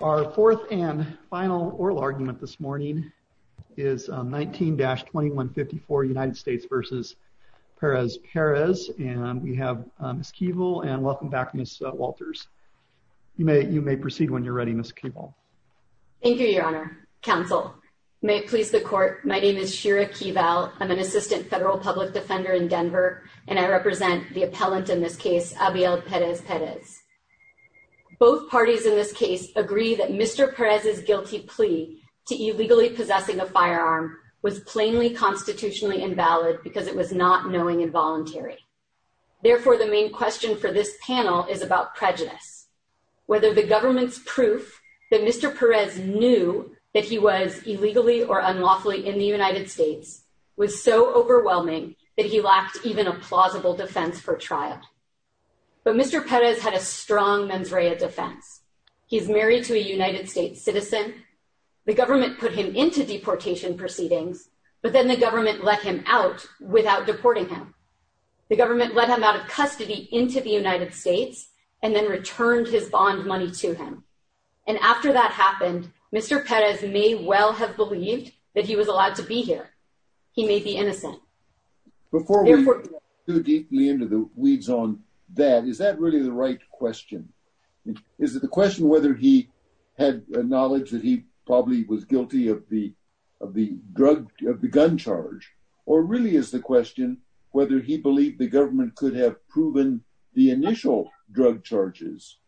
Our fourth and final oral argument this morning is 19-2154 United States v. Perez-Perez, and we have Ms. Keeval, and welcome back Ms. Walters. You may proceed when you're ready, Ms. Keeval. Thank you, Your Honor. Counsel, may it please the Court, my name is Shira Keeval. I'm an assistant federal public defender in Denver, and I represent the appellant in this case, Abiel Perez-Perez. Both parties in this case agree that Mr. Perez's guilty plea to illegally possessing a firearm was plainly constitutionally invalid because it was not knowing and voluntary. Therefore, the main question for this panel is about prejudice. Whether the government's proof that Mr. Perez knew that he was illegally or unlawfully in the United States was so overwhelming that he lacked even a plausible defense for trial. But Mr. Perez had a strong mens rea defense. He's married to a United States citizen. The government put him into deportation proceedings, but then the government let him out without deporting him. The government let him out of custody into the United States and then returned his bond money to him. And after that happened, Mr. Perez may well have believed that he was allowed to be here. He may be innocent. Before we get too deeply into the weeds on that, is that really the right question? Is it the question whether he had knowledge that he probably was guilty of the gun charge, or really is the question whether he believed the government could have proven the initial drug charges?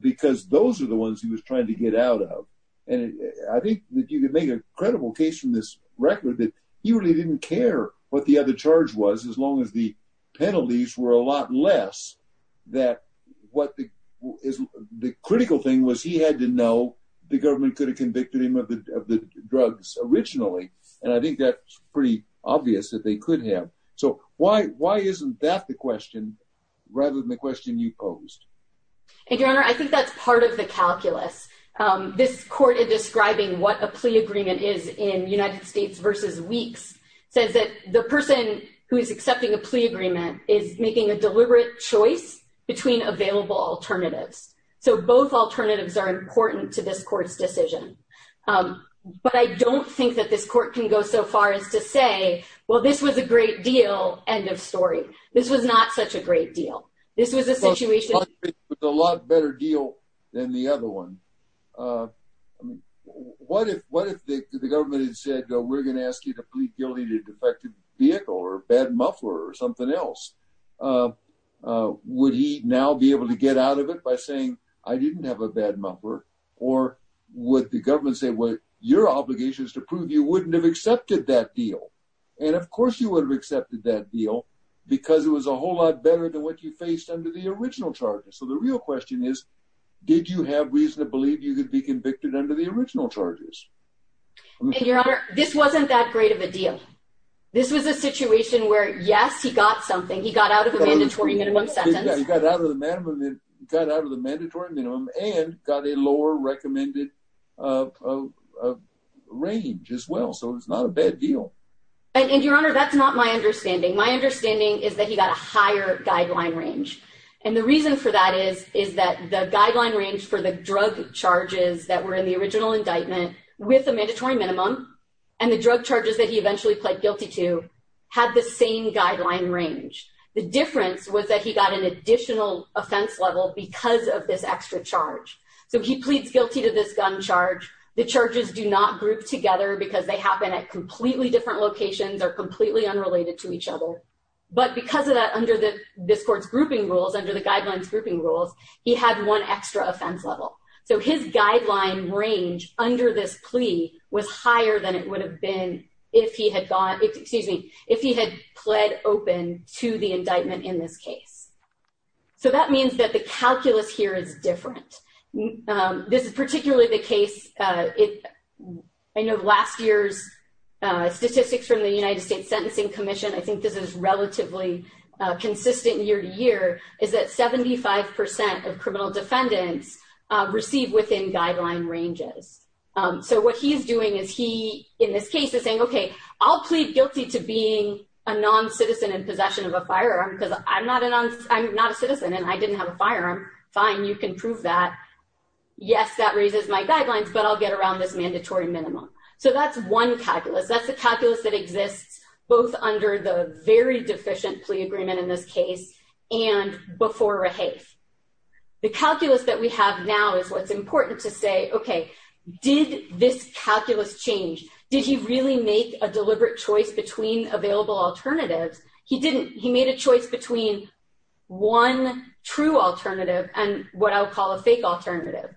Because those are the ones he was trying to get out of. And I think that you could make a credible case from this record that he really didn't care what the other charge was, as long as the penalties were a lot less. The critical thing was he had to know the government could have convicted him of the drugs originally. And I think that's pretty obvious that they could have. So why isn't that the question, rather than the question you posed? And your honor, I think that's part of the calculus. This court is describing what a plea agreement is in United States versus Weeks, says that the person who is accepting a plea agreement is making a deliberate choice between available alternatives. So both alternatives are important to this court's decision. But I don't think that this court can go so far as to say, well, this was a great deal, end of story. This was not such a great deal. This was a situation. It was a lot better deal than the other one. What if the government had said, we're going to ask you to plead guilty to a defective vehicle or bad muffler or something else? Would he now be able to get out of it by saying, I didn't have a bad muffler? Or would the government say, well, your obligation is to prove you wouldn't have accepted that deal? And of course you would have accepted that deal because it was a whole lot better than what you faced under the original charges. So the real question is, did you have reason to believe you could be convicted under the original charges? And your honor, this wasn't that great of a deal. This was a situation where, yes, he got something. He got out of the mandatory minimum sentence. He got out of the mandatory minimum and got a lower recommended range as well. So it's not a that's not my understanding. My understanding is that he got a higher guideline range. And the reason for that is that the guideline range for the drug charges that were in the original indictment with the mandatory minimum and the drug charges that he eventually pled guilty to had the same guideline range. The difference was that he got an additional offense level because of this extra charge. So he pleads guilty to this gun charge. The charges do not group together because they happen at completely different locations or completely unrelated to each other. But because of that, under this court's grouping rules, under the guidelines grouping rules, he had one extra offense level. So his guideline range under this plea was higher than it would have been if he had gone, excuse me, if he had pled open to the indictment in this case. So that means that the calculus here is different. This is particularly the case I know of last year's statistics from the United States Sentencing Commission. I think this is relatively consistent year to year, is that 75 percent of criminal defendants receive within guideline ranges. So what he's doing is he in this case is saying, okay, I'll plead guilty to being a non-citizen in possession of a firearm because I'm not a citizen and I didn't have a firearm. Fine, you can prove that. Yes, that raises my guidelines, but I'll get around this mandatory minimum. So that's one calculus. That's the calculus that exists both under the very deficient plea agreement in this case and before Rehaith. The calculus that we have now is what's important to say, okay, did this calculus change? Did he really make a deliberate choice between available alternatives? He made a choice between one true alternative and what I would call a fake alternative.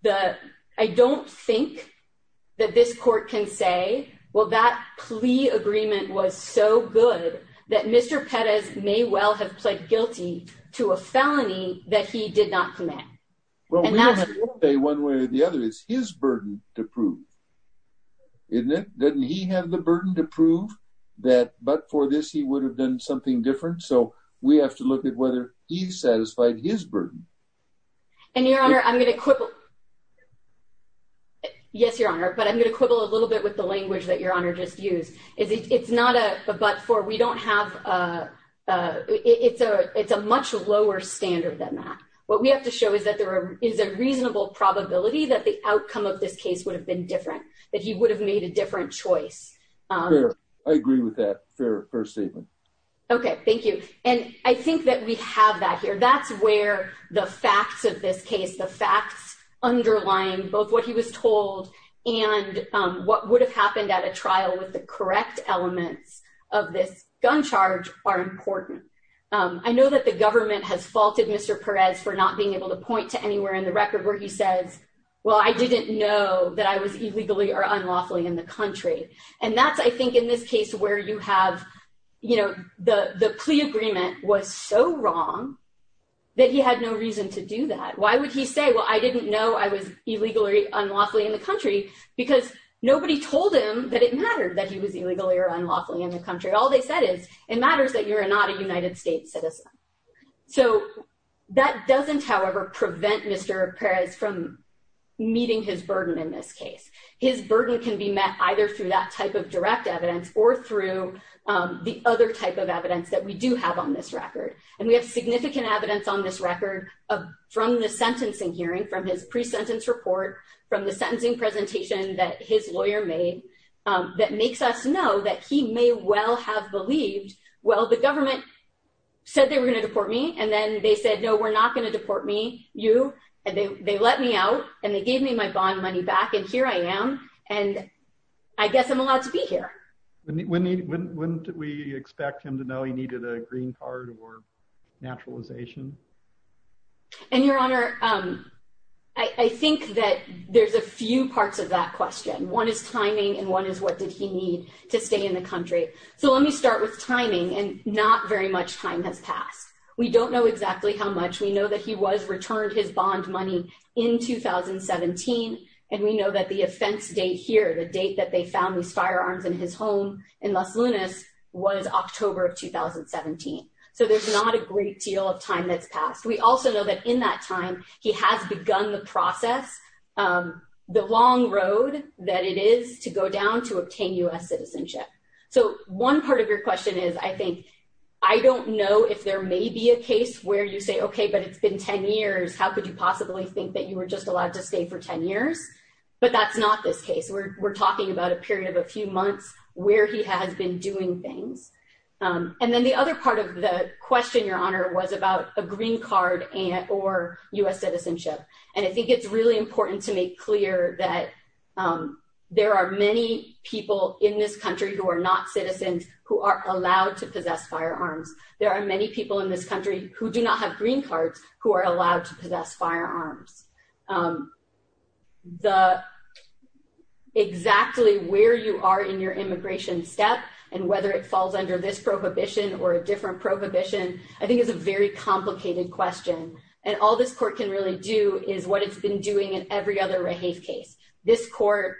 I don't think that this court can say, well, that plea agreement was so good that Mr. Pettis may well have pled guilty to a felony that he did not commit. Well, we can't say one way or the other. It's his burden to prove, isn't it? Doesn't he have the burden to prove that but for this he would have done something different? So we have to look at whether he's satisfied his burden. And your honor, I'm going to quibble. Yes, your honor, but I'm going to quibble a little bit with the language that your honor just used. It's not a but for, we don't have, it's a much lower standard than that. What we have to show is that there is a reasonable probability that the outcome of this case would have been different, that he would have made a different choice. I agree with that. Fair first statement. Okay, thank you. And I think that we have that here. That's where the facts of this case, the facts underlying both what he was told and what would have happened at a trial with the correct elements of this gun charge are important. I know that the government has faulted Mr. Perez for not being able to point to anywhere in the record where he says, well, I didn't know that I was illegally or unlawfully in the country. And that's, I think, in this case where you have, you know, the plea agreement was so wrong that he had no reason to do that. Why would he say, well, I didn't know I was illegally or unlawfully in the country? Because nobody told him that it mattered that he was illegally or unlawfully in the country. All they said is it matters that you're not a United States citizen. So that doesn't, however, prevent Mr. Perez from meeting his burden in this case. His burden can be met either through that type of direct evidence or through the other type of evidence that we do have on this record. And we have significant evidence on this record from the sentencing hearing, from his pre-sentence report, from the sentencing presentation that his lawyer made that makes us know that he may well have believed, well, the government said they were going to deport me. And then they said, no, we're not going to deport me, you. And they let me out and they gave me my bond money back. And here I am. And I guess I'm allowed to be here. When did we expect him to know he needed a green card or naturalization? And your honor, I think that there's a few parts of that question. One is timing. And one is what did he need to stay in the country? So let me start with timing. And not very much time has passed. We don't know exactly how much. We know that he was returned his bond money in 2017. And we know that the offense date here, the date that they found these firearms in his home in Las Lunas, was October of 2017. So there's not a great deal of time that's taken to process the long road that it is to go down to obtain U.S. citizenship. So one part of your question is, I think, I don't know if there may be a case where you say, okay, but it's been 10 years, how could you possibly think that you were just allowed to stay for 10 years? But that's not this case. We're talking about a period of a few months where he has been doing things. And then the other part of the question, your honor, was about a green card or U.S. citizenship. And I think it's really important to make clear that there are many people in this country who are not citizens who are allowed to possess firearms. There are many people in this country who do not have green cards who are allowed to possess firearms. The exactly where you are in your immigration step and whether it prohibition, I think is a very complicated question. And all this court can really do is what it's been doing in every other case. This court,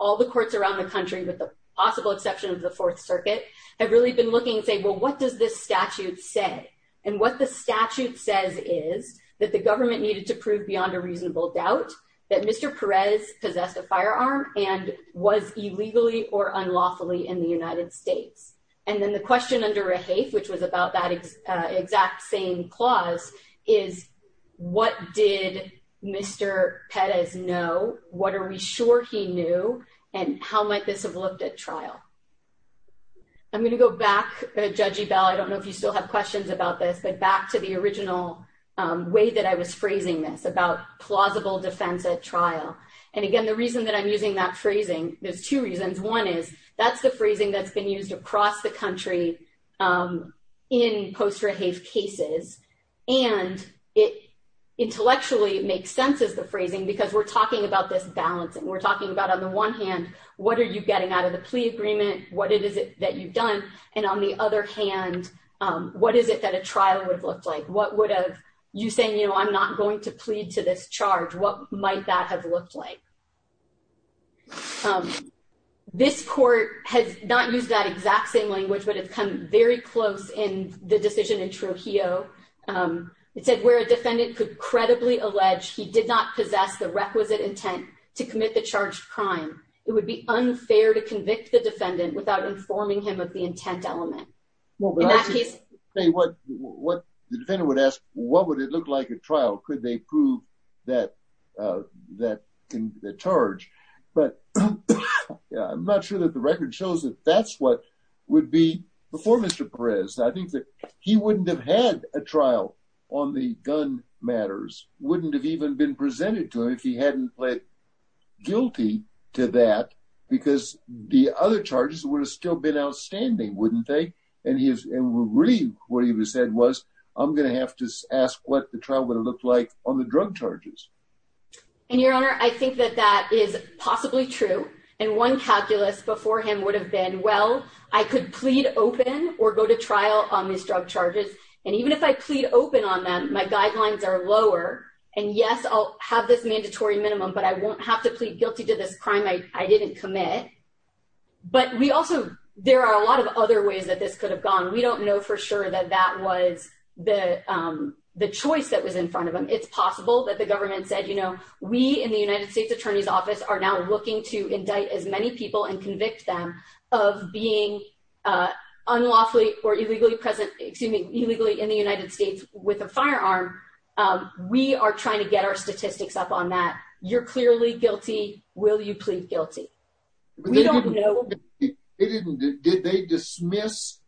all the courts around the country, with the possible exception of the Fourth Circuit, have really been looking and saying, well, what does this statute say? And what the statute says is that the government needed to prove beyond a reasonable doubt that Mr. Perez possessed a firearm and was illegally or unlawfully in the United States. And then the question under Rahafe, which was about that exact same clause, is what did Mr. Perez know? What are we sure he knew? And how might this have looked at trial? I'm going to go back, Judge Ebell, I don't know if you still have questions about this, but back to the original way that I was phrasing this about plausible defense at trial. And again, the reason that I'm using that phrasing, there's two reasons. One is that's the phrasing that's been used across the country in post-Rahafe cases. And intellectually, it makes sense as the phrasing, because we're talking about this balancing. We're talking about on the one hand, what are you getting out of the plea agreement? What is it that you've done? And on the other hand, what is it that a trial would have looked like? What would have you saying, I'm not going to plead to this exact same language, but it's come very close in the decision in Trujillo. It said where a defendant could credibly allege he did not possess the requisite intent to commit the charged crime. It would be unfair to convict the defendant without informing him of the intent element. Well, the defendant would ask, what would it look like at trial? Could they prove that charge? But I'm not sure that the record shows that that's what would be before Mr. Perez. I think that he wouldn't have had a trial on the gun matters, wouldn't have even been presented to him if he hadn't pled guilty to that, because the other charges would have still been outstanding, wouldn't they? And what he said was, I'm going to have to ask what the trial would have looked like on the drug charges. And your honor, I think that that is possibly true. And one calculus before him would have been, well, I could plead open or go to trial on these drug charges. And even if I plead open on them, my guidelines are lower. And yes, I'll have this mandatory minimum, but I won't have to plead guilty to this crime I didn't commit. But we also, there are a lot of other ways that this could have gone. We don't know for sure that that was the choice that was in front of him. It's possible that the government said, you know, we in the United States attorney's office are now looking to indict as many people and convict them of being unlawfully or illegally present, excuse me, illegally in the United States with a firearm. We are trying to get our statistics up on that. You're clearly guilty. Will you plead guilty? We don't know. Did they dismiss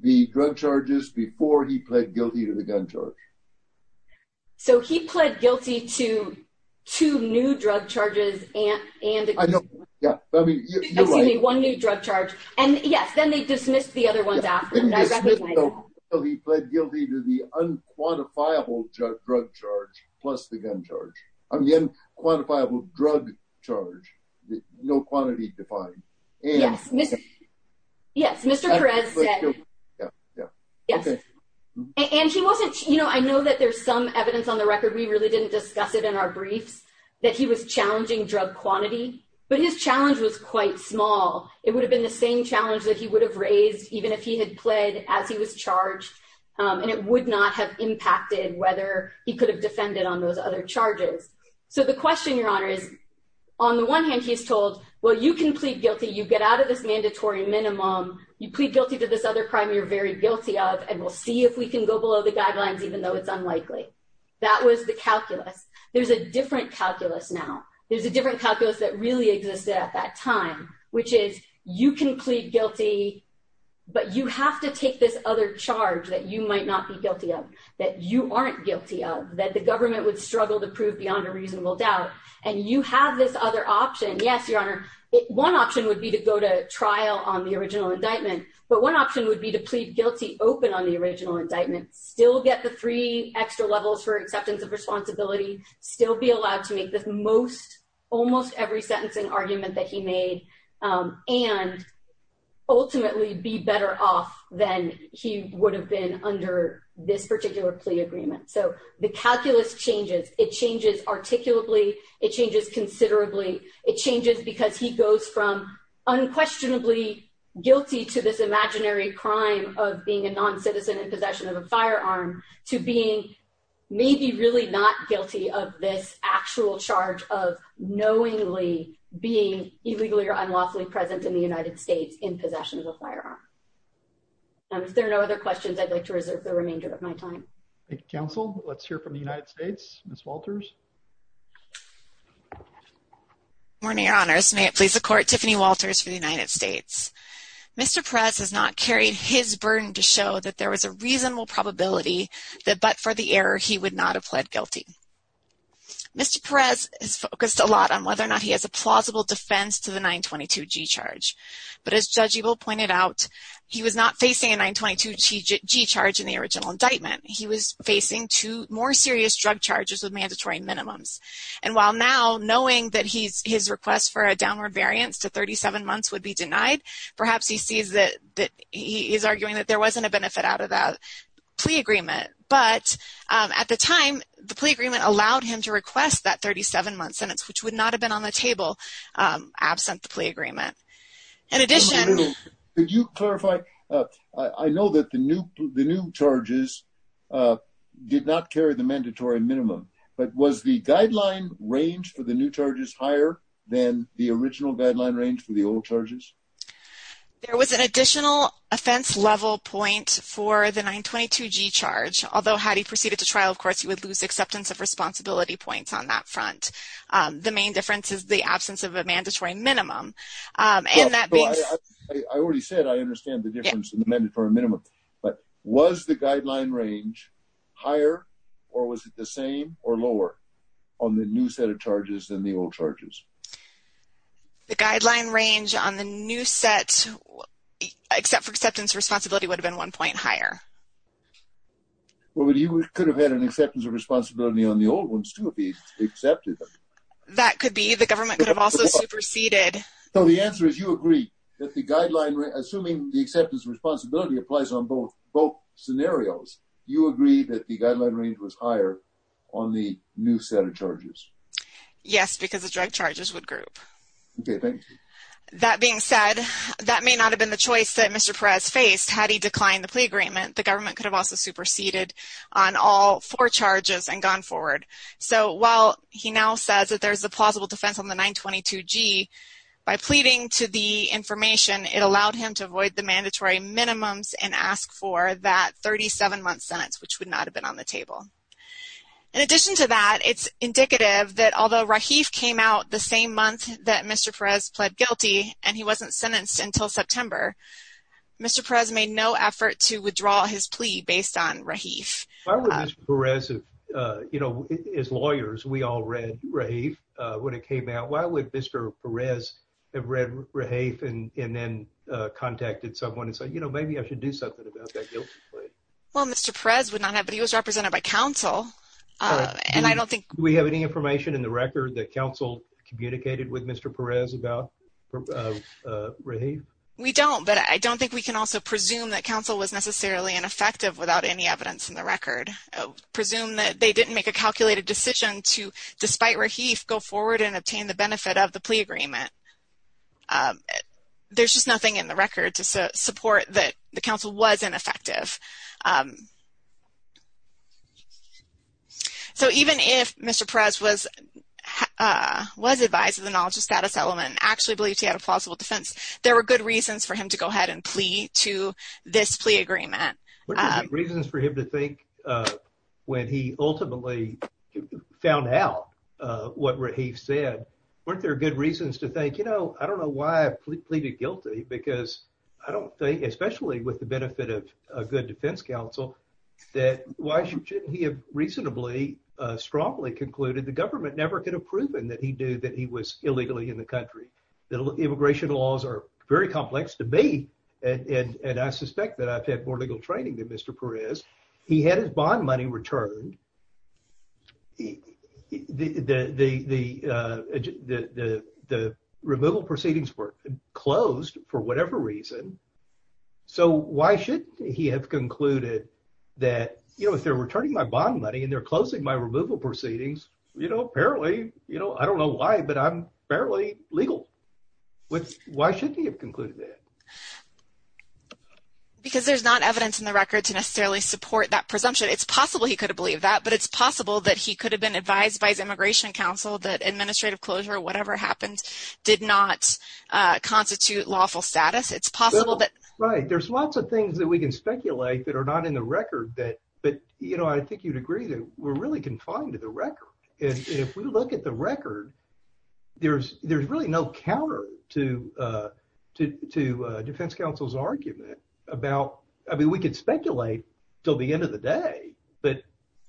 the drug charges before he pled guilty to the gun charge? So he pled guilty to two new drug charges and one new drug charge. And yes, then they dismissed the other ones after that. He pled guilty to the unquantifiable drug charge plus the gun charge. Unquantifiable drug charge, no quantity defined. Yes, Mr. Perez said, and he wasn't, you know, I know that there's some evidence on the record. We really didn't discuss it in our briefs that he was challenging drug quantity, but his challenge was quite small. It would have been the same challenge that he would have raised even if he had pled as he was charged. And it would not have impacted whether he could have defended on those other charges. So the question, Your Honor, is on the one hand, he's told, well, you can plead guilty. You get out of this mandatory minimum. You plead guilty to this other crime you're very guilty of, and we'll see if we can go below the guidelines, even though it's unlikely. That was the calculus. There's a different calculus now. There's a different calculus that really existed at that time, which is you can plead guilty, but you have to take this other charge that you might not be beyond a reasonable doubt, and you have this other option. Yes, Your Honor, one option would be to go to trial on the original indictment, but one option would be to plead guilty open on the original indictment, still get the three extra levels for acceptance of responsibility, still be allowed to make this most, almost every sentencing argument that he made, and ultimately be better off than he would have been under this particular plea agreement. So the calculus changes. It changes articulately. It changes considerably. It changes because he goes from unquestionably guilty to this imaginary crime of being a non-citizen in possession of a firearm to being maybe really not guilty of this actual charge of knowingly being illegally or unlawfully present in the firearm. If there are no other questions, I'd like to reserve the remainder of my time. Thank you, Counsel. Let's hear from the United States. Ms. Walters. Good morning, Your Honors. May it please the Court, Tiffany Walters for the United States. Mr. Perez has not carried his burden to show that there was a reasonable probability that but for the error, he would not have pled guilty. Mr. Perez has focused a lot on whether or not he has a plausible defense to the 922g charge. But as Judge Ebel pointed out, he was not facing a 922g charge in the original indictment. He was facing two more serious drug charges with mandatory minimums. And while now knowing that his request for a downward variance to 37 months would be denied, perhaps he sees that he is arguing that there wasn't a benefit out of that plea agreement. But at the time, the plea agreement allowed him to request that 37-month sentence, which would not have been on the table absent the plea agreement. In addition... Could you clarify? I know that the new charges did not carry the mandatory minimum. But was the guideline range for the new charges higher than the original guideline range for the old charges? There was an additional offense level point for the 922g charge. Although had he proceeded to trial, of course, he would lose acceptance of responsibility points on that front. The main difference is the absence of a mandatory minimum. I already said I understand the difference in the mandatory minimum. But was the guideline range higher or was it the same or lower on the new set of charges than the old charges? The guideline range on the new set except for acceptance responsibility would have been one point higher. Well, he could have had an acceptance of responsibility on the old ones too if he accepted them. That could be. The government could have also superseded. So the answer is you agree that the guideline, assuming the acceptance of responsibility applies on both scenarios, you agree that the guideline range was higher on the new set of charges? Yes, because the drug charges would group. Okay, thank you. That being said, that may not have been the choice that Mr. Perez faced. Had he declined the plea agreement, the government could have also superseded on all four charges and gone forward. So while he now says that there's a plausible defense on the 922g, by pleading to the information, it allowed him to avoid the mandatory minimums and ask for that 37-month sentence, which would not have been on the table. In addition to that, it's indicative that although Rahif came out the same month that Mr. Perez pled guilty and he wasn't sentenced until September, Mr. Perez made no effort to withdraw his plea based on Rahif. As lawyers, we all read Rahif when it came out. Why would Mr. Perez have read Rahif and then contacted someone and said, maybe I should do something about that guilty plea? Well, Mr. Perez would not have, but he was represented by counsel. Do we have any information in the record that counsel communicated with Mr. Perez about Rahif? We don't, but I don't think we can also presume that counsel was necessarily ineffective without any evidence in the record. Presume that they didn't make a calculated decision to, despite Rahif, go forward and obtain the benefit of the plea agreement. There's just nothing in the record to support that the counsel was ineffective. So, even if Mr. Perez was advised of the knowledge of status element and actually believed he had a plausible defense, there were good reasons for him to go ahead and plea to this plea agreement. Were there good reasons for him to think when he ultimately found out what Rahif said, weren't there good reasons to think, you know, I don't know why I pleaded guilty because I don't think, especially with the benefit of a good defense counsel, that why shouldn't he have reasonably, uh, strongly concluded the government never could have proven that he knew that he was illegally in the country. The immigration laws are very complex to me and, and, and I suspect that I've had more legal training than Mr. Perez. He had his bond money returned. The, the, the, uh, the, the, the removal proceedings were closed for whatever reason. So, why shouldn't he have concluded that, you know, if they're returning my bond money and they're closing my removal proceedings, you know, apparently, you know, I don't know why, but I'm fairly legal. Why shouldn't he have concluded that? Because there's not evidence in the record to necessarily support that presumption. It's possible he could have believed that, but it's possible that he could have been advised by his immigration counsel that administrative closure, whatever happened, did not, uh, constitute lawful status. It's possible that... Right. There's lots of things that we can speculate that are not in the record that, but, you know, I think you'd agree that we're really confined to the record. And if we look at the record, there's, there's really no counter to, uh, to, to, uh, defense counsel's argument about, I mean, we can speculate till the end of the day, but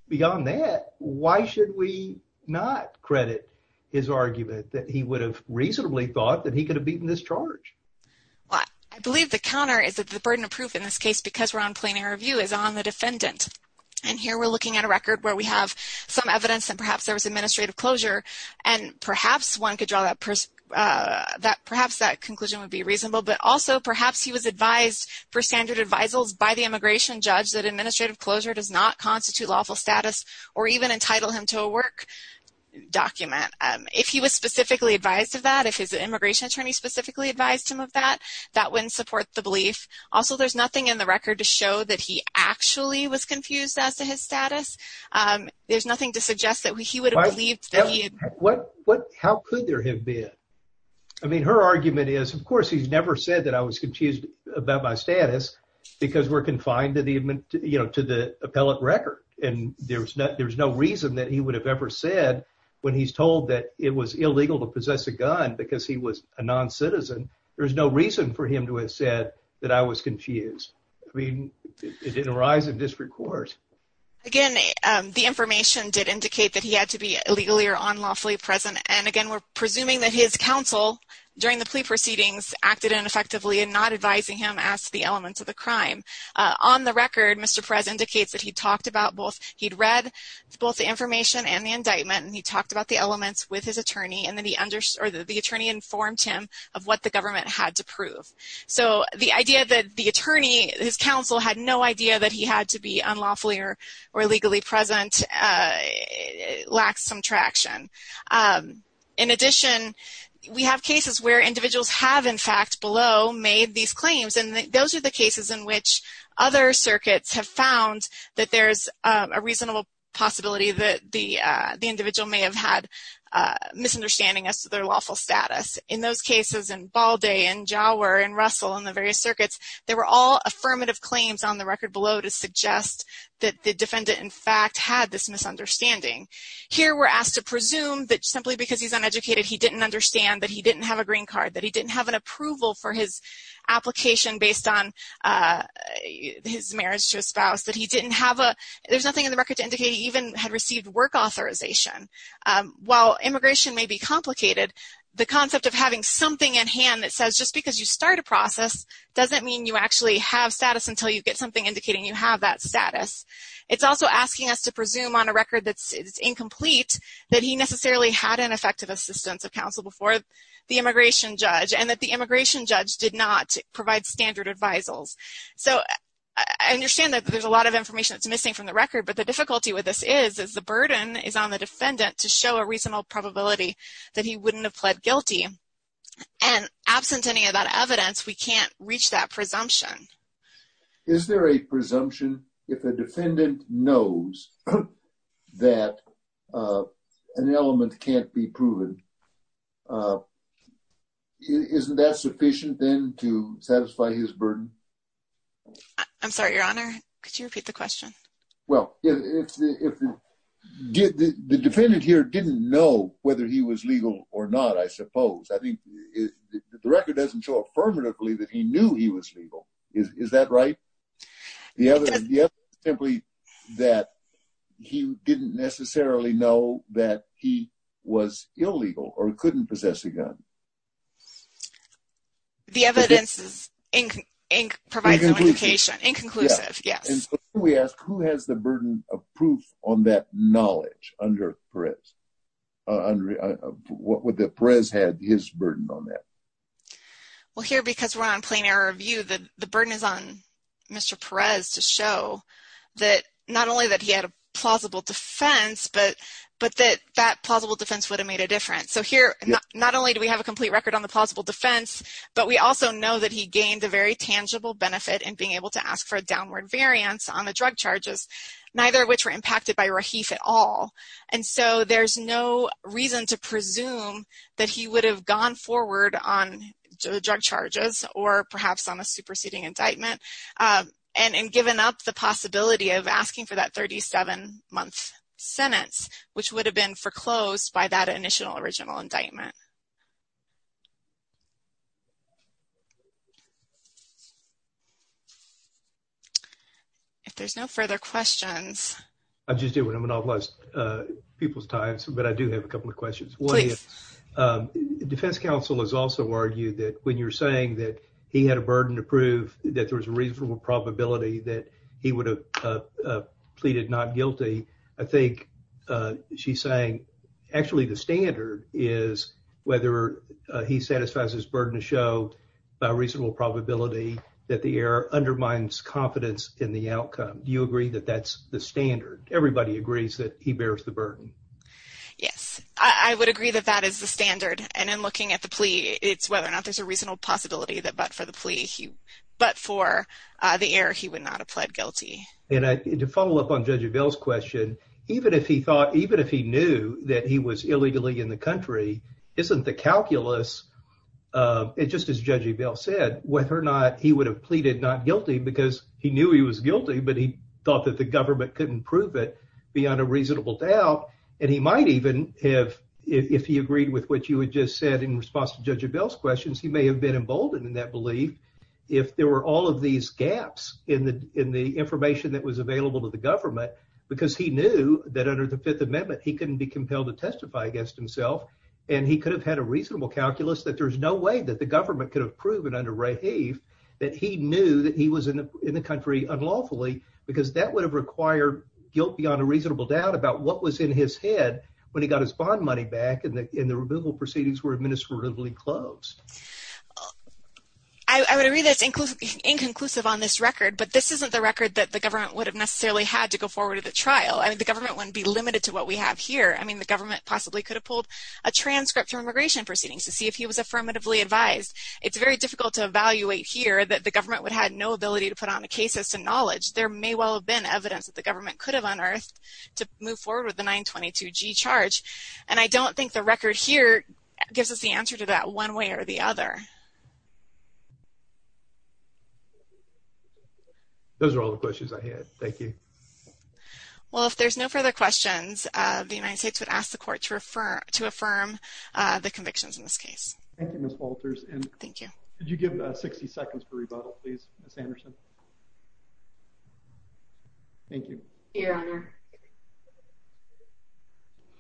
beyond that, why should we not credit his argument that he would have reasonably thought that he could have beaten this charge? Well, I believe the counter is that the burden of proof in this case, because we're on plenary review, is on the defendant. And here we're looking at a record where we have some evidence that perhaps there was administrative closure and perhaps one could for standard advisals by the immigration judge that administrative closure does not constitute lawful status or even entitle him to a work document. Um, if he was specifically advised of that, if his immigration attorney specifically advised him of that, that wouldn't support the belief. Also, there's nothing in the record to show that he actually was confused as to his status. Um, there's nothing to suggest that he would have believed that he... What, what, how could there have been? I mean, her argument is, of course, he's never said that I was about my status because we're confined to the, you know, to the appellate record. And there's not, there's no reason that he would have ever said when he's told that it was illegal to possess a gun because he was a non-citizen. There's no reason for him to have said that I was confused. I mean, it didn't arise in district court. Again, the information did indicate that he had to be illegally or unlawfully present. And again, we're presuming that his counsel during the advising him asked the elements of the crime. Uh, on the record, Mr. Perez indicates that he talked about both, he'd read both the information and the indictment, and he talked about the elements with his attorney, and then he understood, or the attorney informed him of what the government had to prove. So the idea that the attorney, his counsel, had no idea that he had to be unlawfully or, or illegally present, uh, lacks some traction. Um, in addition, we have cases where individuals have, in fact, below, made these claims. And those are the cases in which other circuits have found that there's a reasonable possibility that the, uh, the individual may have had, uh, misunderstanding as to their lawful status. In those cases, in Balde, and Jauer, and Russell, and the various circuits, there were all affirmative claims on the record below to suggest that the defendant, in fact, had this misunderstanding. Here, we're asked to presume that simply because he's uneducated, he didn't understand that he didn't have a green card, that he didn't have an approval for his application based on, uh, his marriage to a spouse, that he didn't have a, there's nothing in the record to indicate he even had received work authorization. Um, while immigration may be complicated, the concept of having something in hand that says just because you start a process doesn't mean you actually have status until you get something indicating you have that status. It's also asking us to presume on a record that's, it's incomplete, that he necessarily had an assistance of counsel before the immigration judge, and that the immigration judge did not provide standard advisals. So, I understand that there's a lot of information that's missing from the record, but the difficulty with this is, is the burden is on the defendant to show a reasonable probability that he wouldn't have pled guilty, and absent any of that evidence, we can't reach that presumption. Is there a presumption if a defendant knows that, uh, an element can't be proven? Uh, isn't that sufficient then to satisfy his burden? I'm sorry, your honor, could you repeat the question? Well, if the, if the defendant here didn't know whether he was legal or not, I suppose, I think the record doesn't show affirmatively that he knew he was legal. Is that right? The other, simply that he didn't necessarily know that he was illegal, or couldn't possess a gun. The evidence is, provides some indication, inconclusive, yes. And so, we ask, who has the burden of proof on that knowledge under Perez? What would the Perez had his burden on that? Well, here, because we're on plain error of view, the burden is on Mr. Perez to show that not only that he had a plausible defense, but, but that that plausible defense would have made a difference. So, here, not only do we have a complete record on the plausible defense, but we also know that he gained a very tangible benefit in being able to ask for a downward variance on the drug charges, neither of which were impacted by Rahif at all. And so, there's no reason to presume that he perhaps on a superseding indictment, and given up the possibility of asking for that 37 month sentence, which would have been foreclosed by that initial original indictment. If there's no further questions. I just did what I'm going to bless people's times, but I do have a couple of questions. Please. Defense counsel has also argued that when you're saying that he had a burden to prove that there was a reasonable probability that he would have pleaded not guilty, I think she's saying actually the standard is whether he satisfies his burden to show a reasonable probability that the error undermines confidence in the outcome. Do you agree that that's the standard? Everybody agrees that he bears the burden. Yes, I would agree that that is the standard, and in looking at the plea, it's whether or not there's a reasonable possibility that but for the plea, but for the error, he would not have pled guilty. And to follow up on Judge Evel's question, even if he thought, even if he knew that he was illegally in the country, isn't the calculus, just as Judge Evel said, whether or not he would have pleaded not guilty because he knew he was guilty, but he thought that the government couldn't prove it beyond a reasonable doubt. And he might even have, if he agreed with what you had just said in response to Judge Evel's questions, he may have been emboldened in that belief if there were all of these gaps in the information that was available to the government, because he knew that under the Fifth Amendment, he couldn't be compelled to testify against himself. And he could have had a reasonable calculus that there's no way that the government could have proven under Raheef that he knew that he was in the country unlawfully because that would have required guilt beyond a reasonable doubt about what was in his head when he got his bond money back and the removal proceedings were administratively closed. I would agree that's inconclusive on this record, but this isn't the record that the government would have necessarily had to go forward with a trial. I mean, the government wouldn't be limited to what we have here. I mean, the government possibly could have pulled a transcript from immigration proceedings to see if he was affirmatively advised. It's very difficult to evaluate here that the government would have no ability to put on a case as to knowledge. There may well have been evidence that the government could have unearthed to move forward with the 922G charge. And I don't think the record here gives us the answer to that one way or the other. Those are all the questions I had. Thank you. Well, if there's no further questions, the United States would ask the court to affirm the convictions in this case. Thank you, Ms. Walters. Thank you. Could you give 60 seconds for rebuttal, please, Ms. Anderson? Thank you. Your Honor.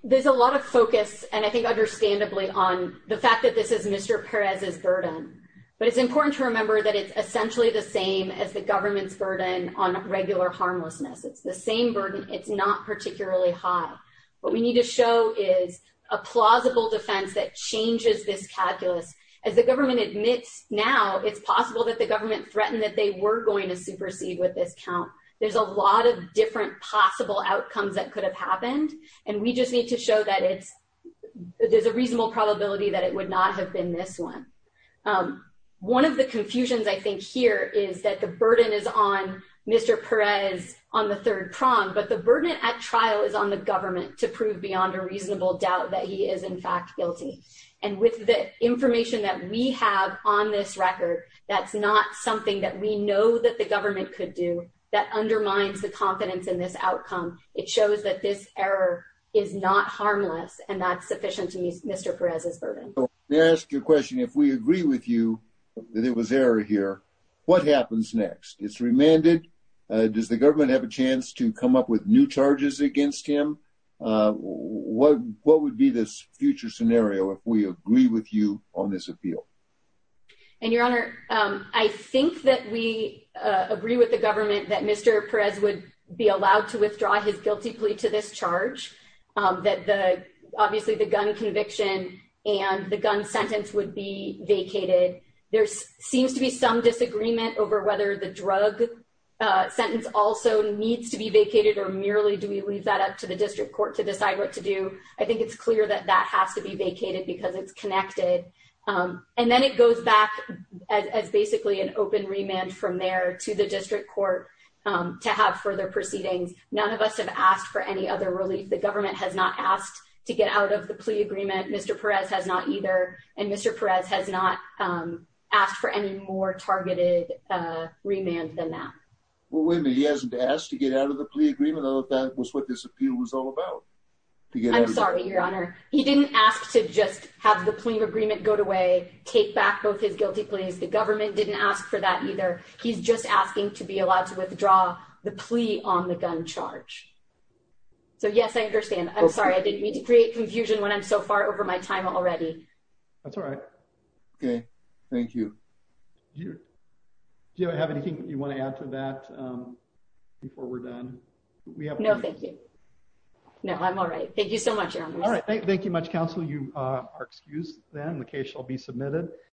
There's a lot of focus, and I think understandably, on the fact that this is Mr. Perez's burden. But it's important to remember that it's essentially the same as the government's burden on regular harmlessness. It's the same burden. It's not particularly high. What we need to show is a plausible defense that changes this calculus. As the government admits now, it's possible that the government threatened that they were going to supersede with this count. There's a lot of different possible outcomes that could have happened, and we just need to show that there's a reasonable probability that it would not have been this one. One of the confusions, I think, here is that the burden is on Mr. Perez on the third prong, but the burden at trial is on the government to prove beyond a reasonable doubt that he is, in fact, guilty. And with the information that we have on this record, that's not something that we know that the government could do that undermines the confidence in this outcome. It shows that this error is not harmless, and that's sufficient to Mr. Perez's burden. May I ask you a question? If we agree with you that it was error here, what happens next? It's remanded. Does the government have a chance to come up with new charges against him? What would be this future scenario if we agree with you on this appeal? And, Your Honor, I think that we agree with the government that Mr. Perez would be allowed to withdraw his guilty plea to this charge, that obviously the gun conviction and the gun sentence would be vacated. There seems to be some disagreement over whether the drug sentence also needs to be vacated or merely do we leave that up to the district court to decide what to do. I think it's clear that that has to be vacated because it's connected. And then it goes back as basically an open remand from there to the district court to have further proceedings. None of us have asked for any other relief. The government has not asked to get out of the plea agreement. Mr. Perez has not either. And Mr. Perez has not asked for any targeted remand than that. Well, wait a minute. He hasn't asked to get out of the plea agreement. I thought that was what this appeal was all about. I'm sorry, Your Honor. He didn't ask to just have the plea agreement go away, take back both his guilty pleas. The government didn't ask for that either. He's just asking to be allowed to withdraw the plea on the gun charge. So, yes, I understand. I'm sorry. I didn't mean to create confusion when I'm so far over my time already. That's all right. Okay. Thank you. Do you have anything you want to add to that before we're done? No, thank you. No, I'm all right. Thank you so much, Your Honor. All right. Thank you much, counsel. You are excused then. The case shall be submitted.